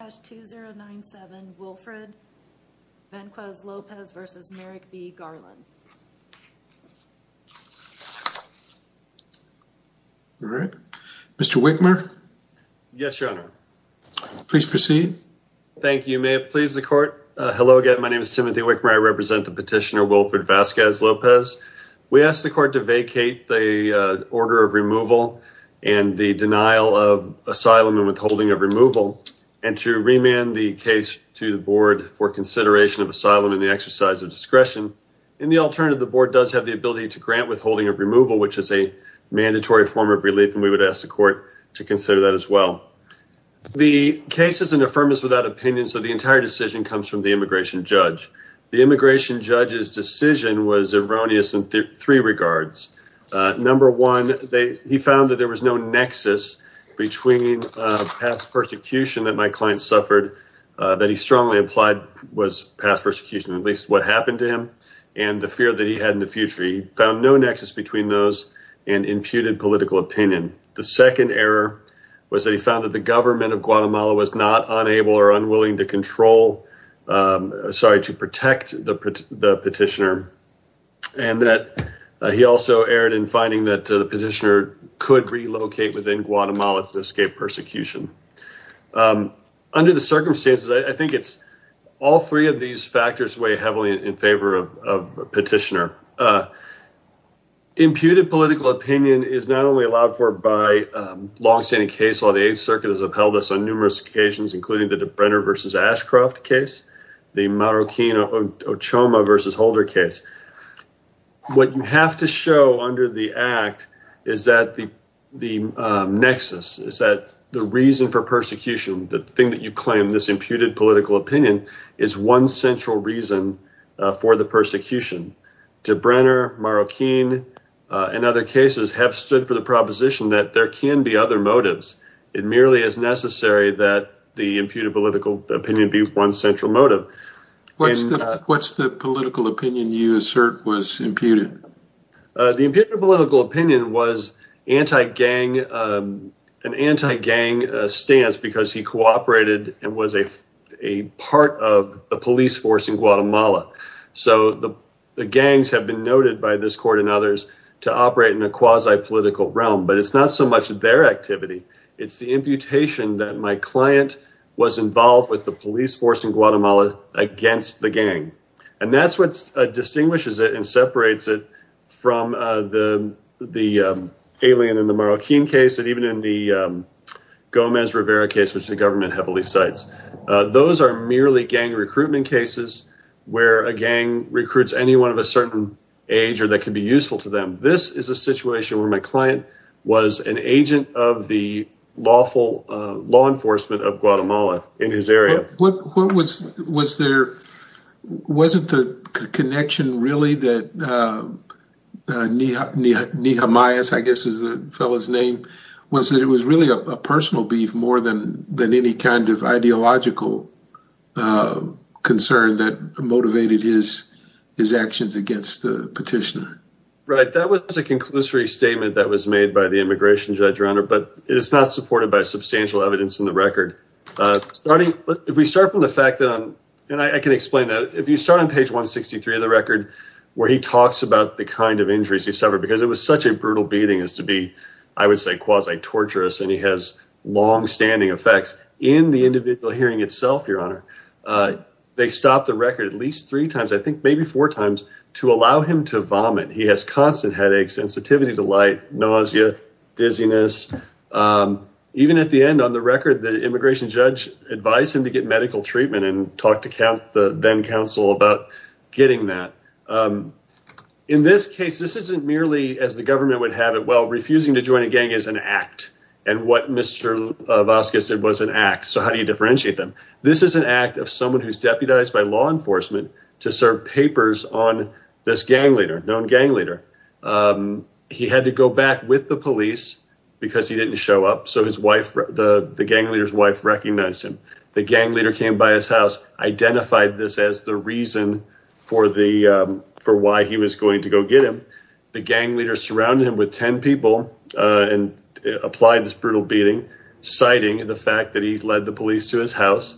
All right. Mr. Wickmer? Yes, your honor. Please proceed. Thank you. May it please the court. Hello again. My name is Timothy Wickmer. I represent the petitioner Wilfred Vasquez-Lopez. We ask the court to vacate the order of removal and the denial of asylum and withholding of remand the case to the board for consideration of asylum in the exercise of discretion. In the alternative, the board does have the ability to grant withholding of removal, which is a mandatory form of relief, and we would ask the court to consider that as well. The case is an affirmance without opinions, so the entire decision comes from the immigration judge. The immigration judge's decision was erroneous in three regards. Number one, he found that there that he strongly applied was past persecution, at least what happened to him, and the fear that he had in the future. He found no nexus between those and imputed political opinion. The second error was that he found that the government of Guatemala was not unable or unwilling to control, sorry, to protect the petitioner, and that he also erred in finding that the petitioner could relocate within Guatemala to escape persecution. Under the circumstances, I think it's all three of these factors weigh heavily in favor of a petitioner. Imputed political opinion is not only allowed for by long-standing case law. The Eighth Circuit has upheld this on numerous occasions, including the Brenner v. Ashcroft case, the the nexus is that the reason for persecution, the thing that you claim, this imputed political opinion, is one central reason for the persecution. To Brenner, Marroquin, and other cases have stood for the proposition that there can be other motives. It merely is necessary that the imputed political opinion be one central motive. What's the political opinion you assert was imputed? The imputed political opinion was an anti-gang stance because he cooperated and was a part of the police force in Guatemala. The gangs have been noted by this court and others to operate in a quasi-political realm, but it's not so much their activity. It's the imputation that my client was involved with the police force in Guatemala against the gang. That's what distinguishes it and separates it from the alien in the Marroquin case and even in the Gomez Rivera case, which the government heavily cites. Those are merely gang recruitment cases where a gang recruits anyone of a certain age or that can be useful to them. This is a situation where my client was an agent of the law enforcement of Guatemala in his area. Wasn't the connection really that Nijamayas, I guess is the fellow's name, was that it was really a personal beef more than any kind of ideological concern that motivated his actions against the government? It's not supported by substantial evidence in the record. If we start from the fact that, and I can explain that, if you start on page 163 of the record where he talks about the kind of injuries he suffered because it was such a brutal beating as to be, I would say, quasi-torturous and he has long-standing effects in the individual hearing itself, your honor, they stopped the record at least three times, I think maybe four times, to allow him to vomit. He has constant headaches, sensitivity to light, nausea, dizziness. Even at the end on the record, the immigration judge advised him to get medical treatment and talked to the then counsel about getting that. In this case, this isn't merely, as the government would have it, well, refusing to join a gang is an act and what Mr. Vasquez did was an act, so how do you differentiate them? This is an act of someone who's deputized by law enforcement to serve papers on this gang leader, known gang leader. He had to go back with the police because he didn't show up, so the gang leader's wife recognized him. The gang leader came by his house, identified this as the reason for why he was going to go get him. The gang leader surrounded him with 10 people and applied this brutal beating, citing the fact that he led the police to his house.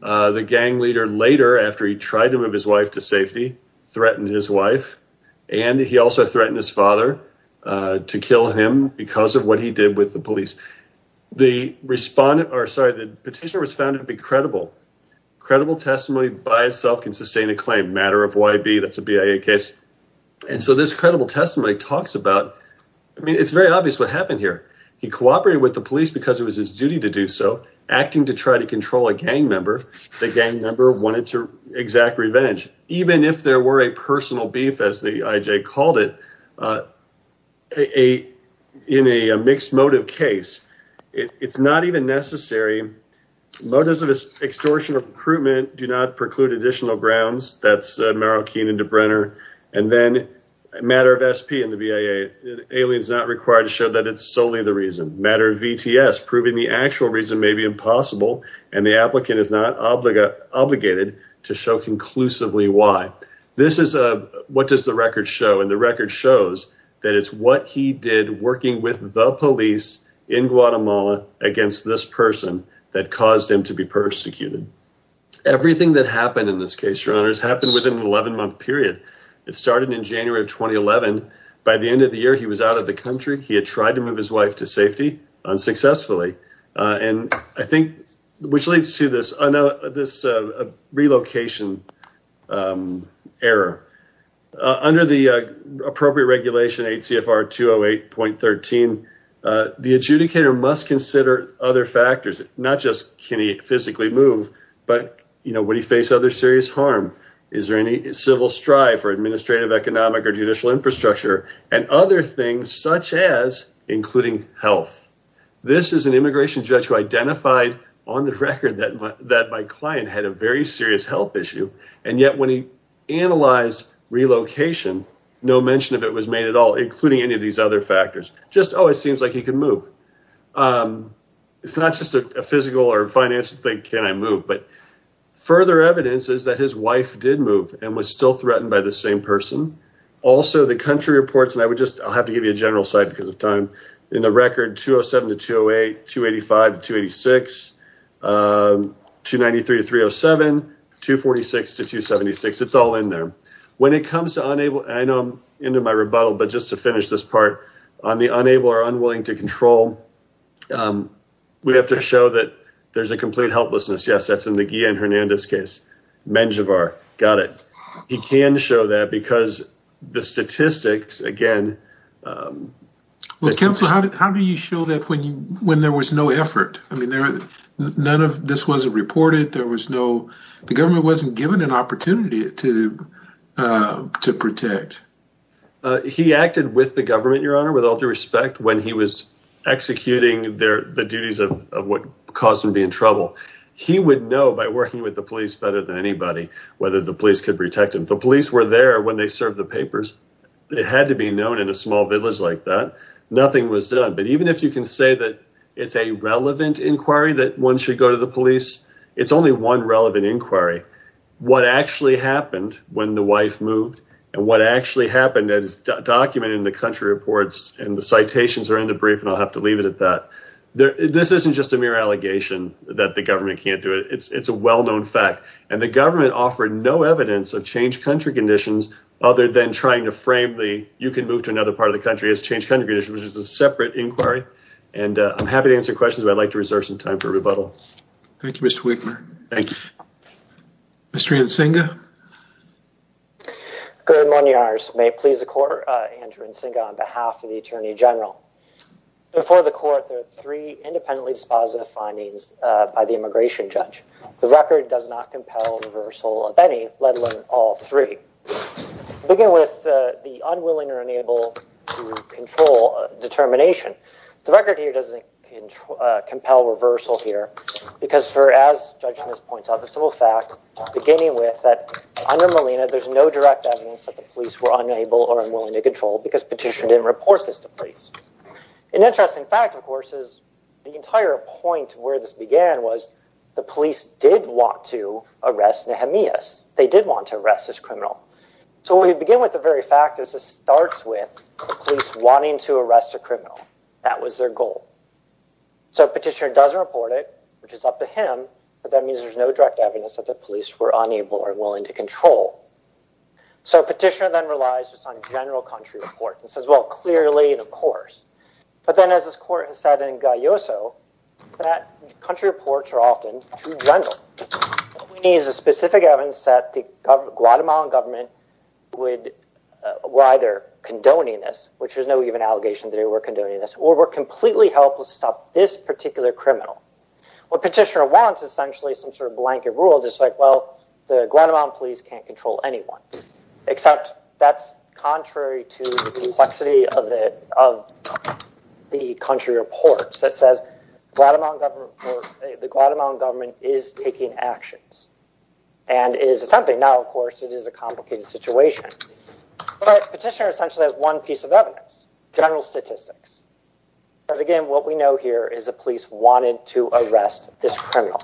The gang leader later, after he tried to move his wife to safety, threatened his wife and he also threatened his father to kill him because of what he did with the police. The petitioner was found to be credible. Credible testimony by itself can sustain a claim, matter of YB, that's a BIA case. This credible testimony talks about, I mean, it's very obvious what happened here. He cooperated with the police because it was his the gang member wanted to exact revenge. Even if there were a personal beef, as the IJ called it, in a mixed motive case, it's not even necessary. Motives of extortion or recruitment do not preclude additional grounds, that's Merrill Keenan DeBrenner, and then matter of SP in the BIA, aliens not required to show that it's solely the reason. Matter of VTS, proving the actual reason may be impossible and the applicant is not obligated to show conclusively why. This is a, what does the record show? And the record shows that it's what he did working with the police in Guatemala against this person that caused him to be persecuted. Everything that happened in this case, your honor, has happened within an 11-month period. It started in January of 2011. By the end of the year, he was out of the country. He had tried to move his wife to safety, unsuccessfully, and I think, which leads to this relocation error. Under the appropriate regulation, 8 CFR 208.13, the adjudicator must consider other factors, not just can he physically move, but, you know, would he face other serious harm? Is there any civil strife or administrative, economic, judicial infrastructure, and other things such as including health? This is an immigration judge who identified on the record that my client had a very serious health issue, and yet when he analyzed relocation, no mention of it was made at all, including any of these other factors. Just, oh, it seems like he can move. It's not just a physical or financial thing, can I move? But further evidence is that his wife did move and was still threatened by the same person, also the country reports, and I'll have to give you a general site because of time. In the record, 207 to 208, 285 to 286, 293 to 307, 246 to 276, it's all in there. When it comes to unable, and I know I'm into my rebuttal, but just to finish this part, on the unable or unwilling to control, we have to show that there's a complete helplessness. Yes, that's in the Guillen-Hernandez case, Menjivar, got it. He can show that because the statistics, again... Counsel, how do you show that when there was no effort? None of this was reported, there was no... The government wasn't given an opportunity to protect. He acted with the government, your honor, with all due respect, when he was working with the police better than anybody, whether the police could protect him. The police were there when they served the papers. It had to be known in a small village like that. Nothing was done, but even if you can say that it's a relevant inquiry that one should go to the police, it's only one relevant inquiry. What actually happened when the wife moved and what actually happened is documented in the country reports and the citations are in the brief and I'll have to leave it at that. This isn't just a mere allegation that the government can't do it. It's a well-known fact and the government offered no evidence of changed country conditions other than trying to frame the, you can move to another part of the country as changed country conditions, which is a separate inquiry. I'm happy to answer questions, but I'd like to reserve some time for rebuttal. Thank you, Mr. Winkler. Thank you. Mr. Ansinga. Good morning, your honors. May it please the court, Andrew Ansinga on behalf of the attorney general. Before the court, there are three independently dispositive findings by the immigration judge. The record does not compel reversal of any, let alone all three. Beginning with the unwilling or unable to control determination. The record here doesn't compel reversal here because as the judge points out, the civil fact, beginning with that under Molina, there's no direct evidence that the police were unable or unwilling to control because Petitioner didn't report this to police. An interesting fact, of course, is the entire point where this began was the police did want to arrest Nehemias. They did want to arrest this criminal. So we begin with the very fact that this starts with the police wanting to arrest a criminal. That was their goal. So Petitioner doesn't report it, which is up to him, but that means there's no direct evidence that the police were unable or willing to control. So Petitioner then relies on general country reports and says, well, clearly, of course. But then as this court has said in Galloso, that country reports are often too general. What we need is a specific evidence that the Guatemalan government would, were either condoning this, which there's no even allegation that they were condoning this, or were completely helpless to stop this particular criminal. What Petitioner wants essentially is some sort of blanket rule, just like, well, the Guatemalan police can't anyone. Except that's contrary to the complexity of the country reports that says the Guatemalan government is taking actions and is attempting. Now, of course, it is a complicated situation. But Petitioner essentially has one piece of evidence, general statistics. But again, what we know here is the police wanted to arrest this criminal.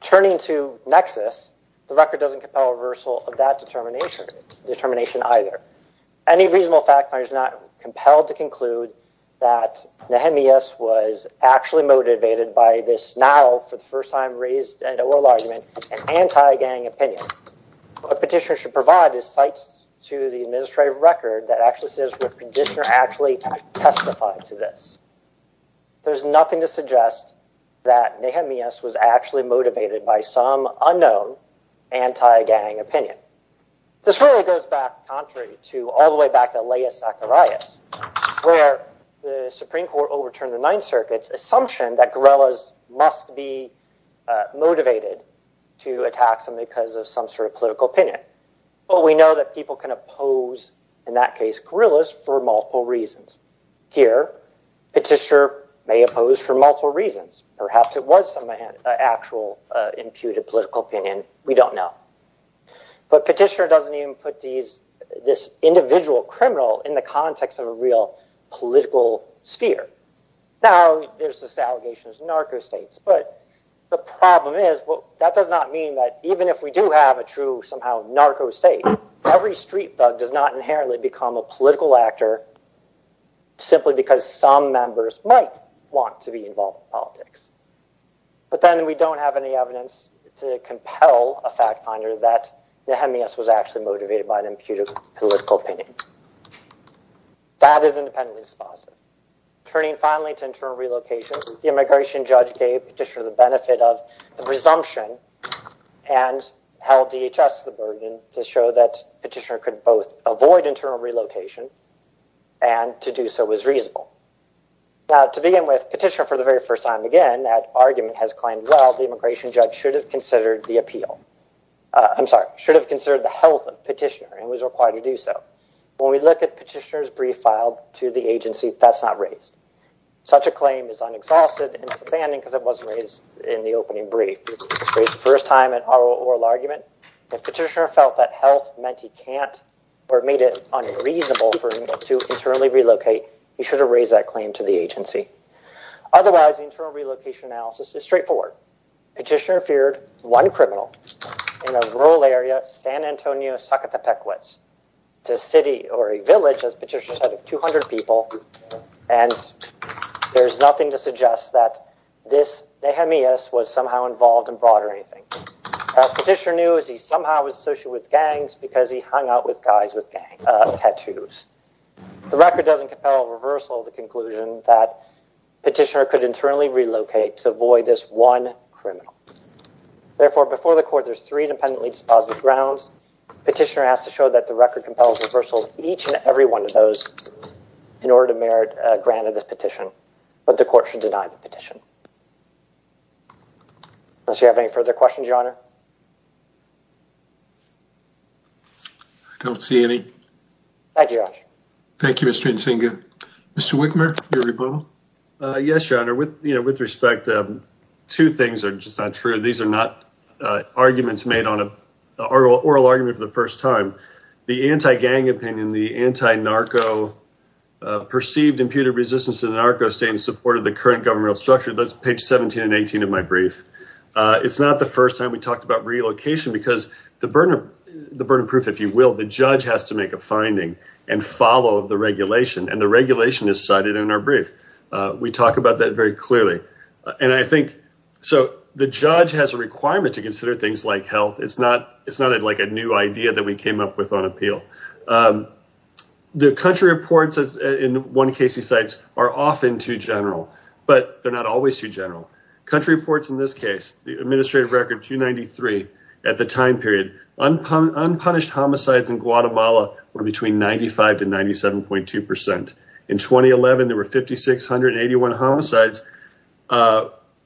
Turning to Nexus, the record doesn't compel reversal of that determination either. Any reasonable fact finder is not compelled to conclude that Nehemias was actually motivated by this now for the first time raised oral argument, an anti-gang opinion. What Petitioner should provide is sites to the administrative record that actually says would Petitioner actually testify to this. There's nothing to suggest that Nehemias was actually motivated by some unknown anti-gang opinion. This really goes back contrary to all the way back to the Supreme Court overturned the Ninth Circuit's assumption that guerrillas must be motivated to attack them because of some sort of political opinion. But we know that people can oppose, in that case, guerrillas for multiple reasons. Here, Petitioner may oppose for multiple reasons. Perhaps it was some actual imputed political opinion. We don't know. But Petitioner doesn't even put this individual criminal in the context of a real political sphere. Now, there's this allegation of narco states. But the problem is, that does not mean that even if we do have a true somehow narco state, every street thug does not inherently become a political actor simply because some members might want to be involved in politics. But then we don't have any evidence to compel a fact finder that Nehemias was actually motivated by an imputed political opinion. That is independently dispositive. Turning finally to internal relocation, the immigration judge gave Petitioner the benefit of the presumption and held DHS to the burden to show that Petitioner could both avoid internal relocation and to do so was reasonable. Now, to begin with, Petitioner for the very first time again, that argument has claimed, well, the immigration judge should have considered the health of Petitioner and was required to do so. When we look at Petitioner's brief filed to the agency, that's not raised. Such a claim is unexhausted. It was raised in the opening brief. The first time in oral argument, if Petitioner felt that health meant he can't or made it unreasonable for him to internally relocate, he should have raised that claim to the agency. Otherwise, the internal relocation analysis is straightforward. Petitioner feared one criminal in a rural area, San Antonio, to a city or a village, as Petitioner said, of 200 people, and there's nothing to suggest that this was somehow involved in broad or anything. Petitioner knew he was associated with gangs because he hung out with guys with tattoos. The record doesn't compel a reversal of the conclusion that Petitioner could internally relocate to avoid this one criminal. Therefore, before the court, there's three independently grounds. Petitioner has to show that the record compels reversal of each and every one of those in order to merit a grant of this petition, but the court should deny the petition. Unless you have any further questions, Your Honor? I don't see any. Thank you, Your Honor. Thank you, Mr. Ntsinga. Mr. Wickmer, for your rebuttal. Yes, Your Honor. With respect, two things are just not true. These are not oral arguments for the first time. The anti-gang opinion, the anti-narco perceived imputed resistance to the narco state in support of the current governmental structure, that's page 17 and 18 of my brief. It's not the first time we talked about relocation because the burden of proof, if you will, the judge has to make a finding and follow the regulation, and the regulation is cited in our brief. We talk about that very clearly. And I think, so the judge has a requirement to consider things like health. It's not it's not like a new idea that we came up with on appeal. The country reports in one case he cites are often too general, but they're not always too general. Country reports in this case, the administrative record 293 at the time period, unpunished homicides in Guatemala were between 95 to 97.2 percent. In 2011, there were 5,681 homicides,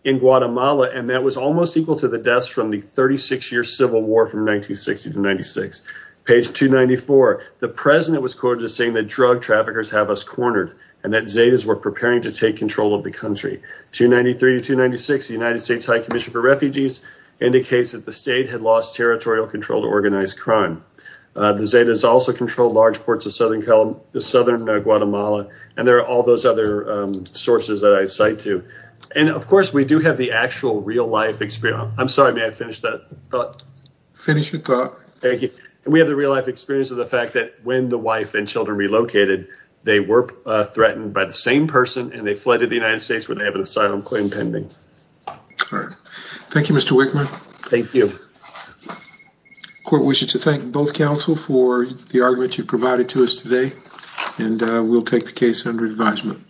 in Guatemala, and that was almost equal to the deaths from the 36-year civil war from 1960 to 96. Page 294, the president was quoted as saying that drug traffickers have us cornered, and that Zetas were preparing to take control of the country. 293 to 296, the United States High Commission for Refugees indicates that the state had lost territorial control to organize crime. The Zetas also controlled large parts of southern Guatemala, and there are all those other sources that I cite too. And of course, we do have the actual real life experience. I'm sorry, may I finish that thought? Finish your thought. Thank you. And we have the real life experience of the fact that when the wife and children relocated, they were threatened by the same person and they fled to the United States where they have an asylum claim pending. All right. Thank you, Mr. Wickman. Thank you. Court wishes to thank both counsel for the argument you provided to us today, and we'll take the case under advisement.